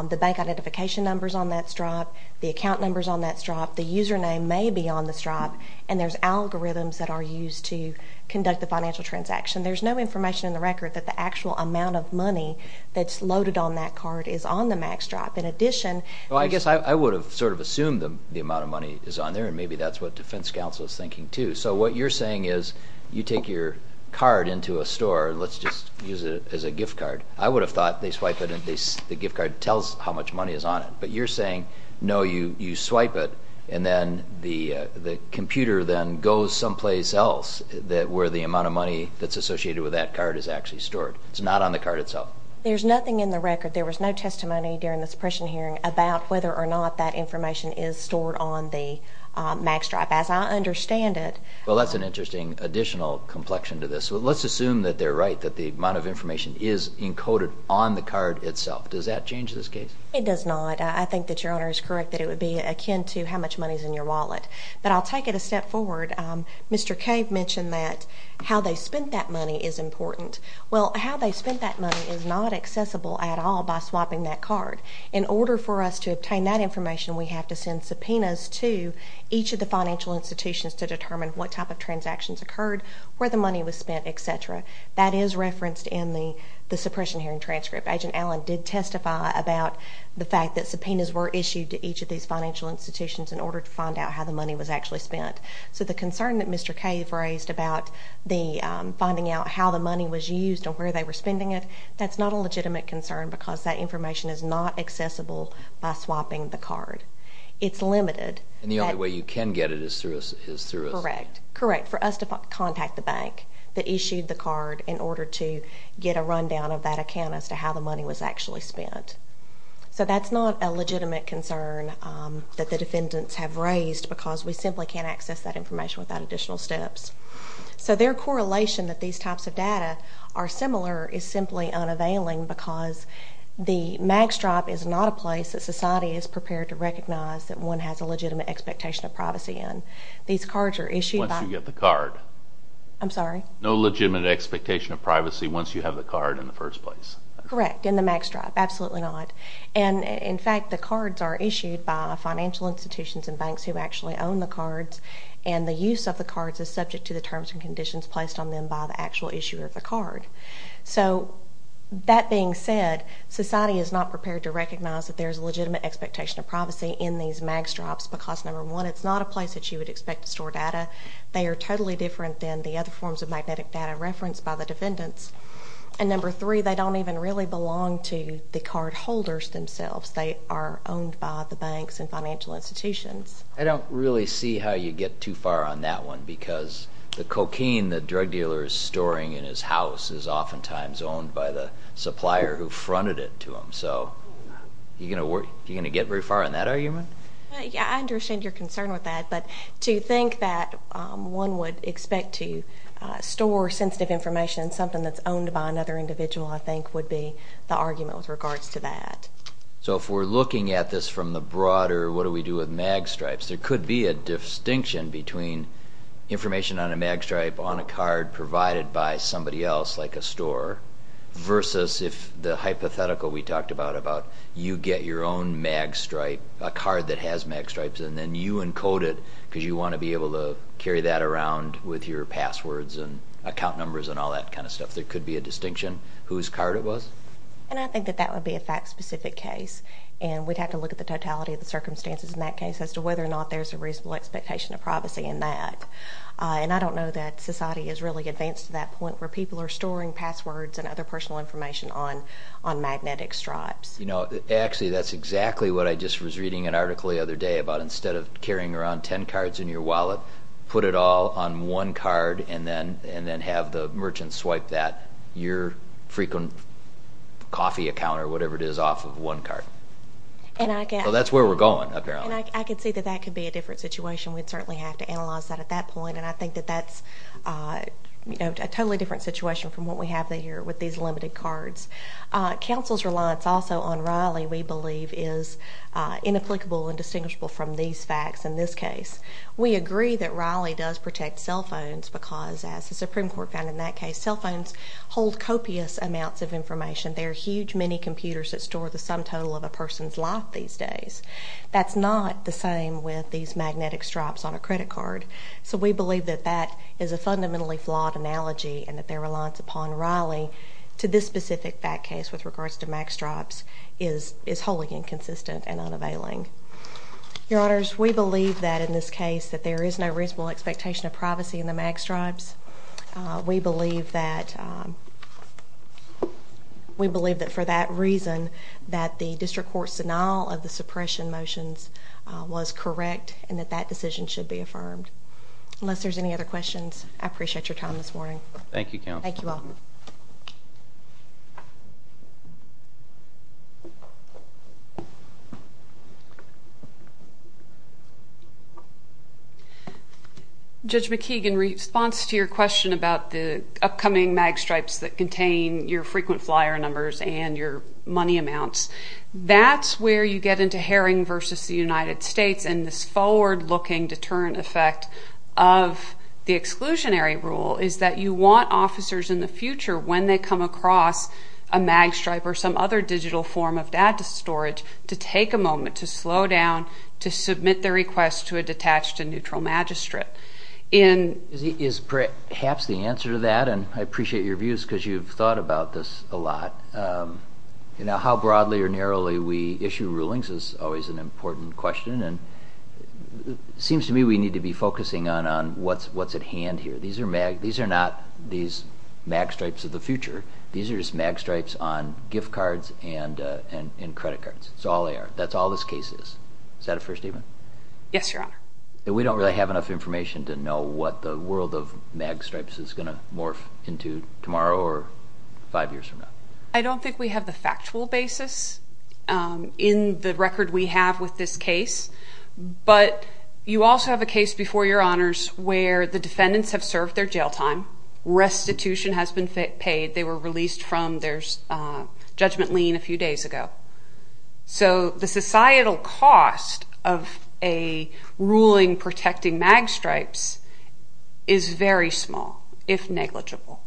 The bank identification number's on that stripe. The account number's on that stripe. The username may be on the stripe, and there's algorithms that are used to conduct the financial transaction. There's no information in the record that the actual amount of money that's loaded on that card is on the MAC stripe. In addition... Well, I guess I would have sort of assumed the amount of money is on there, and maybe that's what defense counsel is thinking too. So what you're saying is you take your card into a store, and let's just use it as a gift card. I would have thought they swipe it and the gift card tells how much money is on it, but you're saying, no, you swipe it, and then the computer then goes someplace else where the amount of money that's associated with that card is actually stored. It's not on the card itself. There's nothing in the record. There was no testimony during the suppression hearing about whether or not that information is stored on the MAC stripe. As I understand it... Well, that's an interesting additional complexion to this. Let's assume that they're right, that the amount of information is encoded on the card itself. Does that change this case? It does not. I think that Your Honor is correct that it would be akin to how much money is in your wallet. But I'll take it a step forward. Mr. Cove mentioned that how they spent that money is important. Well, how they spent that money is not accessible at all by swapping that card. In order for us to obtain that information, we have to send subpoenas to each of the financial institutions to determine what type of transactions occurred, where the money was spent, etc. That is referenced in the suppression hearing transcript. Agent Allen did testify about the fact that subpoenas were issued to each of these financial institutions in order to find out how the money was actually spent. So the concern that Mr. Cove raised about finding out how the money was used or where they were spending it, that's not a legitimate concern because that information is not accessible by swapping the card. It's limited. And the only way you can get it is through a... Correct. Correct, for us to contact the bank that issued the card in order to get a rundown of that account as to how the money was actually spent. So that's not a legitimate concern that the defendants have raised because we simply can't access that information without additional steps. So their correlation that these types of data are similar is simply unavailing because the mag stripe is not a place that society is prepared to recognize that one has a legitimate expectation of privacy in. These cards are issued by... Once you get the card. I'm sorry? No legitimate expectation of privacy once you have the card in the first place. Correct, in the mag stripe, absolutely not. And, in fact, the cards are issued by financial institutions and banks who actually own the cards, and the use of the cards is subject to the terms and conditions placed on them by the actual issuer of the card. So that being said, society is not prepared to recognize that there is a legitimate expectation of privacy in these mag stripes because, number one, it's not a place that you would expect to store data. They are totally different than the other forms of magnetic data referenced by the defendants. And, number three, they don't even really belong to the card holders themselves. They are owned by the banks and financial institutions. I don't really see how you get too far on that one because the cocaine the drug dealer is storing in his house is oftentimes owned by the supplier who fronted it to him. So are you going to get very far on that argument? Yeah, I understand your concern with that, but to think that one would expect to store sensitive information in something that's owned by another individual, I think, would be the argument with regards to that. So if we're looking at this from the broader, what do we do with mag stripes? There could be a distinction between information on a mag stripe on a card provided by somebody else, like a store, versus if the hypothetical we talked about, about you get your own mag stripe, a card that has mag stripes, and then you encode it because you want to be able to carry that around with your passwords and account numbers and all that kind of stuff. There could be a distinction whose card it was? I think that that would be a fact-specific case, and we'd have to look at the totality of the circumstances in that case as to whether or not there's a reasonable expectation of privacy in that. I don't know that society has really advanced to that point where people are storing passwords and other personal information on magnetic stripes. Actually, that's exactly what I just was reading an article the other day about instead of carrying around 10 cards in your wallet, put it all on one card and then have the merchant swipe that. Your frequent coffee account or whatever it is off of one card. That's where we're going, apparently. I can see that that could be a different situation. We'd certainly have to analyze that at that point, and I think that that's a totally different situation from what we have here with these limited cards. Counsel's reliance also on Raleigh, we believe, is inapplicable and distinguishable from these facts in this case. We agree that Raleigh does protect cell phones because, as the Supreme Court found in that case, cell phones hold copious amounts of information. There are huge minicomputers that store the sum total of a person's life these days. That's not the same with these magnetic stripes on a credit card. So we believe that that is a fundamentally flawed analogy and that their reliance upon Raleigh to this specific fact case with regards to magstripes is wholly inconsistent and unavailing. Your Honors, we believe that in this case that there is no reasonable expectation of privacy in the magstripes. We believe that for that reason that the district court's denial of the suppression motions was correct and that that decision should be affirmed. Unless there's any other questions, I appreciate your time this morning. Thank you, Counsel. Thank you all. Judge McKeegan, in response to your question about the upcoming magstripes that contain your frequent flyer numbers and your money amounts, that's where you get into Herring v. the United States and this forward-looking deterrent effect of the exclusionary rule is that you want officers in the future, when they come across a magstripe or some other digital form of data storage, to take a moment to slow down to submit their request to a detached and neutral magistrate. Is perhaps the answer to that, and I appreciate your views because you've thought about this a lot. How broadly or narrowly we issue rulings is always an important question, and it seems to me we need to be focusing on what's at hand here. These are not these magstripes of the future. These are just magstripes on gift cards and credit cards. That's all they are. That's all this case is. Is that a fair statement? Yes, Your Honor. We don't really have enough information to know what the world of magstripes is going to morph into tomorrow or five years from now. I don't think we have the factual basis in the record we have with this case, but you also have a case before Your Honors where the defendants have served their jail time, restitution has been paid, they were released from their judgment lien a few days ago. So the societal cost of a ruling protecting magstripes is very small, if negligible,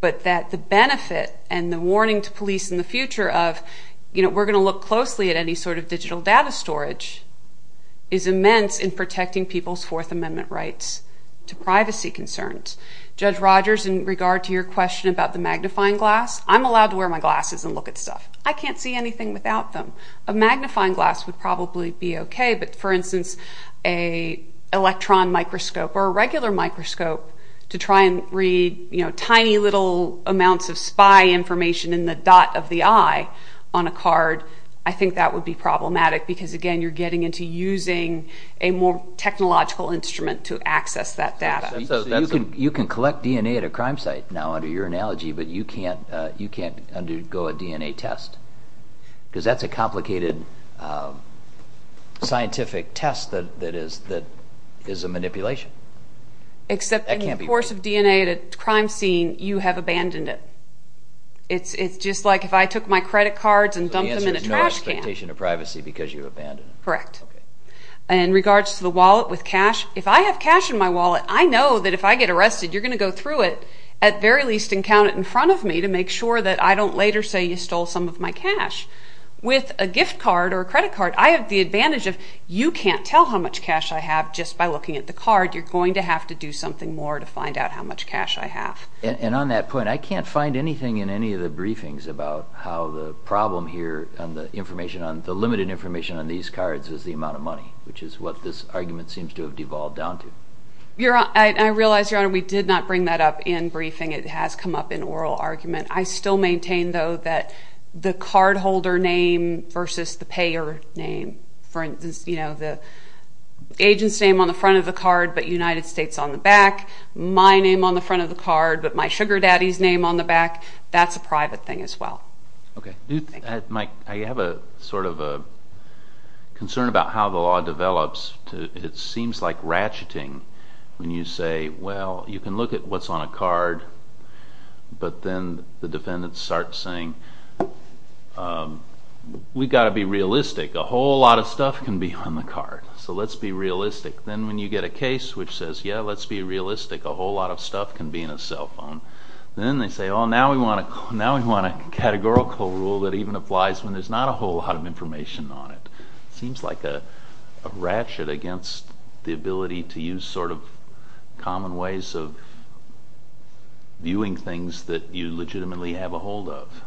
but that the benefit and the warning to police in the future of, you know, we're going to look closely at any sort of digital data storage is immense in protecting people's Fourth Amendment rights to privacy concerns. Judge Rogers, in regard to your question about the magnifying glass, I'm allowed to wear my glasses and look at stuff. I can't see anything without them. A magnifying glass would probably be okay, but, for instance, an electron microscope or a regular microscope to try and read, you know, tiny little amounts of spy information in the dot of the eye on a card, I think that would be problematic because, again, you're getting into using a more technological instrument to access that data. You can collect DNA at a crime site now under your analogy, but you can't undergo a DNA test because that's a complicated scientific test that is a manipulation. Except in the course of DNA at a crime scene, you have abandoned it. It's just like if I took my credit cards and dumped them in a trash can. So the answer is no expectation of privacy because you abandoned it. Correct. Well, I know that if I get arrested, you're going to go through it, at very least and count it in front of me to make sure that I don't later say you stole some of my cash. With a gift card or a credit card, I have the advantage of, you can't tell how much cash I have just by looking at the card. You're going to have to do something more to find out how much cash I have. And on that point, I can't find anything in any of the briefings about how the problem here on the information, on the limited information on these cards is the amount of money, which is what this argument seems to have devolved down to. I realize, Your Honor, we did not bring that up in briefing. It has come up in oral argument. I still maintain, though, that the cardholder name versus the payer name, for instance, the agent's name on the front of the card but United States on the back, my name on the front of the card but my sugar daddy's name on the back, that's a private thing as well. I have a concern about how the law develops. It seems like ratcheting when you say, well, you can look at what's on a card but then the defendant starts saying, we've got to be realistic. A whole lot of stuff can be on the card, so let's be realistic. Then when you get a case which says, yeah, let's be realistic. A whole lot of stuff can be in a cell phone. Then they say, oh, now we want a categorical rule that even applies when there's not a whole lot of information on it. It seems like a ratchet against the ability to use sort of common ways of viewing things that you legitimately have a hold of.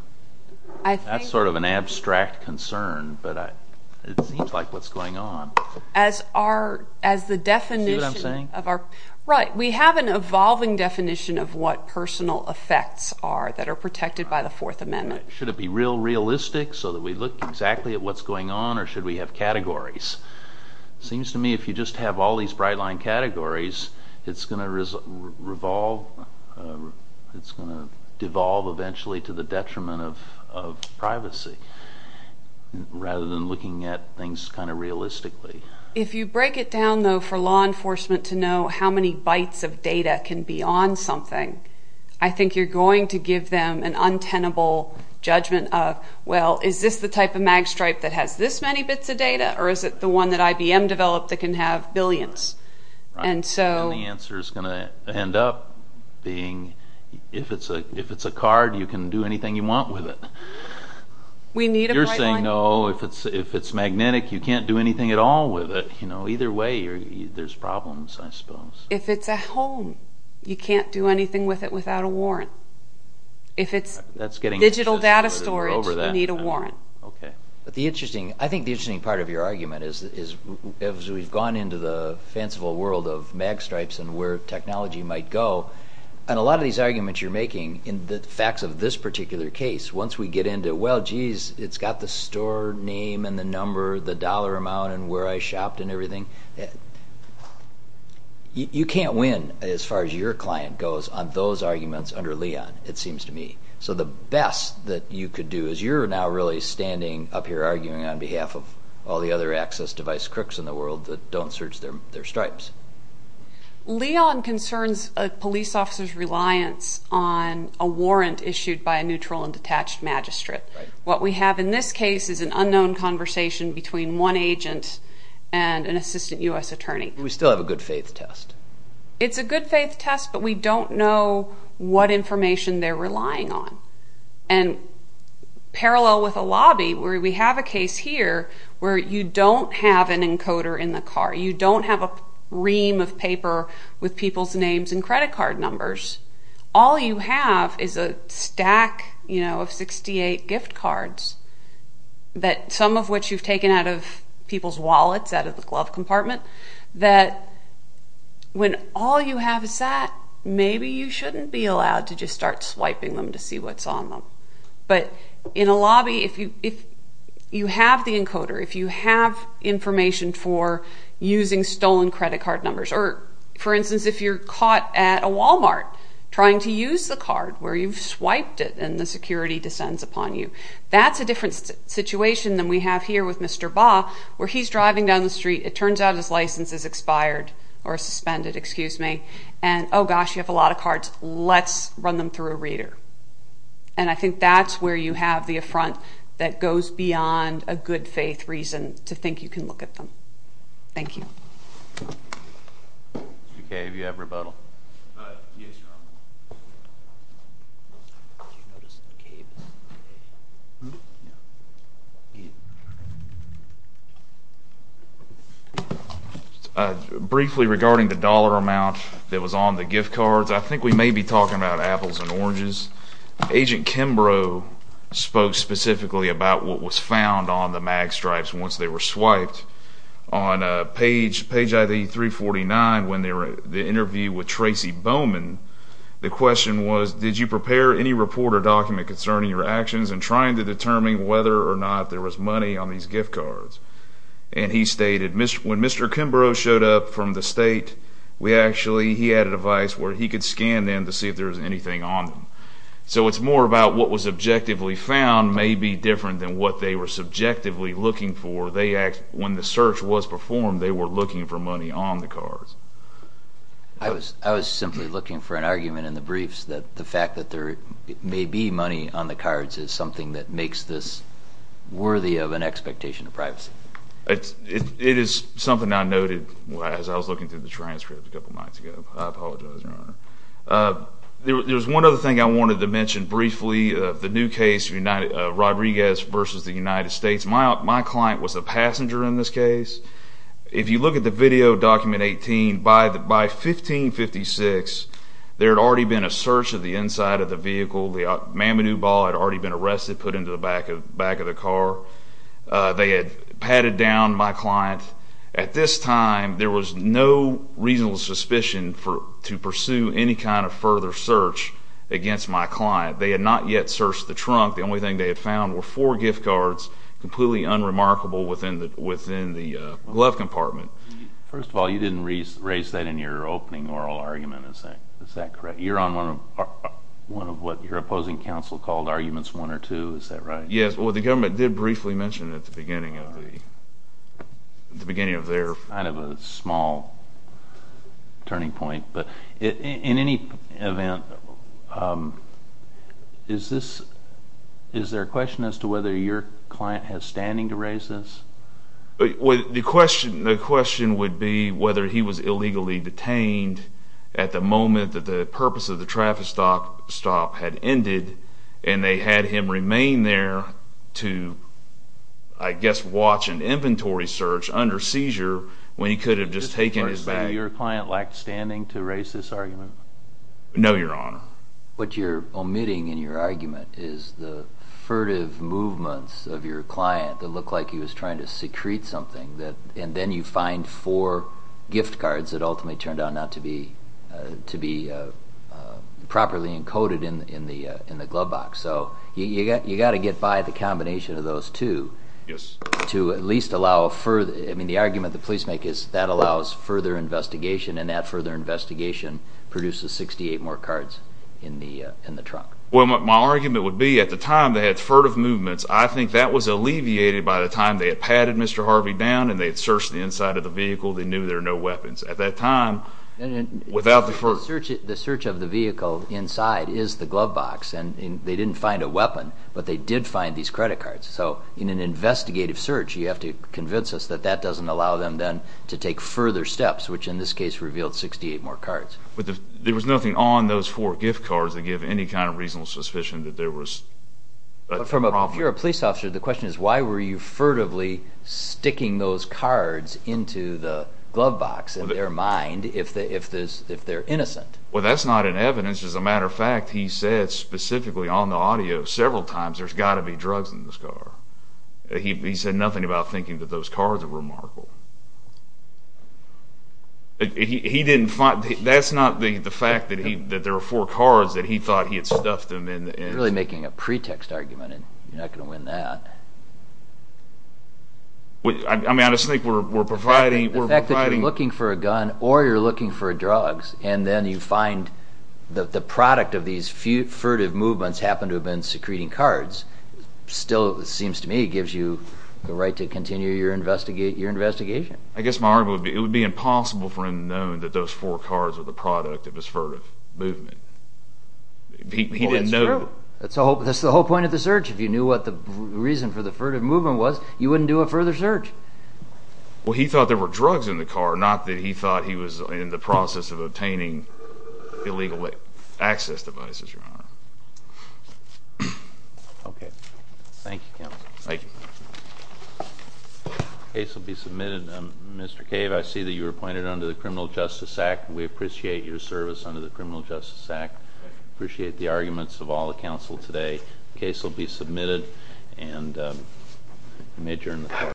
That's sort of an abstract concern, but it seems like what's going on. See what I'm saying? Right. We have an evolving definition of what personal effects are that are protected by the Fourth Amendment. Should it be real realistic so that we look exactly at what's going on or should we have categories? It seems to me if you just have all these bright line categories, it's going to devolve eventually to the detriment of privacy rather than looking at things kind of realistically. If you break it down, though, for law enforcement to know how many bytes of data can be on something, I think you're going to give them an untenable judgment of, well, is this the type of mag stripe that has this many bits of data or is it the one that IBM developed that can have billions? The answer is going to end up being if it's a card, you can do anything you want with it. You're saying, no, if it's magnetic, you can't do anything at all with it. Either way, there's problems, I suppose. If it's a home, you can't do anything with it without a warrant. If it's digital data storage, you need a warrant. I think the interesting part of your argument is as we've gone into the fanciful world of mag stripes and where technology might go, a lot of these arguments you're making in the facts of this particular case, once we get into, well, geez, it's got the store name and the number, the dollar amount and where I shopped and everything, you can't win as far as your client goes on those arguments under Leon, it seems to me. So the best that you could do is you're now really standing up here arguing on behalf of all the other access device crooks in the world that don't search their stripes. Leon concerns a police officer's reliance on a warrant issued by a neutral and detached magistrate. What we have in this case is an unknown conversation between one agent and an assistant U.S. attorney. We still have a good faith test. It's a good faith test, but we don't know what information they're relying on. And parallel with a lobby where we have a case here where you don't have an encoder in the car, you don't have a ream of paper with people's names and credit card numbers, all you have is a stack of 68 gift cards, some of which you've taken out of people's wallets, out of the glove compartment, that when all you have is that, maybe you shouldn't be allowed to just start swiping them to see what's on them. But in a lobby, if you have the encoder, if you have information for using stolen credit card numbers, or, for instance, if you're caught at a Walmart trying to use the card where you've swiped it and the security descends upon you, that's a different situation than we have here with Mr. Ba, where he's driving down the street, it turns out his license is expired, or suspended, excuse me, and oh gosh, you have a lot of cards, let's run them through a reader. And I think that's where you have the affront that goes beyond a good faith reason to think you can look at them. Thank you. Mr. Cave, you have rebuttal. Yes, Your Honor. Briefly regarding the dollar amount that was on the gift cards, I think we may be talking about apples and oranges. Agent Kimbrough spoke specifically about what was found on the mag stripes once they were swiped. On page ID 349, when they interviewed with Tracy Bowman, the question was, did you prepare any report or document concerning your actions in trying to determine whether or not there was money on these gift cards? And he stated, when Mr. Kimbrough showed up from the state, he had a device where he could scan them to see if there was anything on them. So it's more about what was objectively found may be different than what they were subjectively looking for. When the search was performed, they were looking for money on the cards. I was simply looking for an argument in the briefs that the fact that there may be money on the cards is something that makes this worthy of an expectation of privacy. It is something I noted as I was looking through the transcript a couple of nights ago. I apologize, Your Honor. There was one other thing I wanted to mention briefly. The new case, Rodriguez v. The United States. My client was a passenger in this case. If you look at the video document 18, by 1556, there had already been a search of the inside of the vehicle. The Mamadou Ball had already been arrested, put into the back of the car. They had patted down my client. At this time, there was no reasonable suspicion to pursue any kind of further search against my client. They had not yet searched the trunk. The only thing they had found were four gift cards, completely unremarkable, within the glove compartment. First of all, you didn't raise that in your opening oral argument. Is that correct? You're on one of what your opposing counsel called arguments one or two. Is that right? Yes. The government did briefly mention it at the beginning of their... It's kind of a small turning point. In any event, is there a question as to whether your client has standing to raise this? The question would be whether he was illegally detained at the moment that the purpose of the traffic stop had ended, and they had him remain there to, I guess, watch an inventory search under seizure when he could have just taken his bag. Did your client lack standing to raise this argument? No, Your Honor. What you're omitting in your argument is the furtive movements of your client that looked like he was trying to secrete something, and then you find four gift cards that ultimately turned out not to be properly encoded in the glove box. So you've got to get by the combination of those two to at least allow further... and that further investigation produces 68 more cards in the trunk. Well, my argument would be at the time they had furtive movements, I think that was alleviated by the time they had padded Mr. Harvey down and they had searched the inside of the vehicle, they knew there were no weapons. At that time, without the furtive... The search of the vehicle inside is the glove box, and they didn't find a weapon, but they did find these credit cards. So in an investigative search, you have to convince us that that doesn't allow them then to take further steps, which in this case revealed 68 more cards. But there was nothing on those four gift cards to give any kind of reasonable suspicion that there was a problem. But from a pure police officer, the question is, why were you furtively sticking those cards into the glove box in their mind if they're innocent? Well, that's not in evidence. As a matter of fact, he said specifically on the audio several times, there's got to be drugs in this car. He said nothing about thinking that those cards were remarkable. That's not the fact that there were four cards that he thought he had stuffed them in. You're really making a pretext argument, and you're not going to win that. I just think we're providing... The fact that you're looking for a gun or you're looking for drugs, and then you find that the product of these furtive movements happened to have been secreting cards still, it seems to me, gives you the right to continue your investigation. I guess my argument would be it would be impossible for him to have known that those four cards were the product of his furtive movement. He didn't know. That's true. That's the whole point of the search. If you knew what the reason for the furtive movement was, you wouldn't do a further search. Well, he thought there were drugs in the car, illegal access devices, Your Honor. Okay. Thank you, Counsel. Thank you. The case will be submitted. Mr. Cave, I see that you were appointed under the Criminal Justice Act. We appreciate your service under the Criminal Justice Act. We appreciate the arguments of all the counsel today.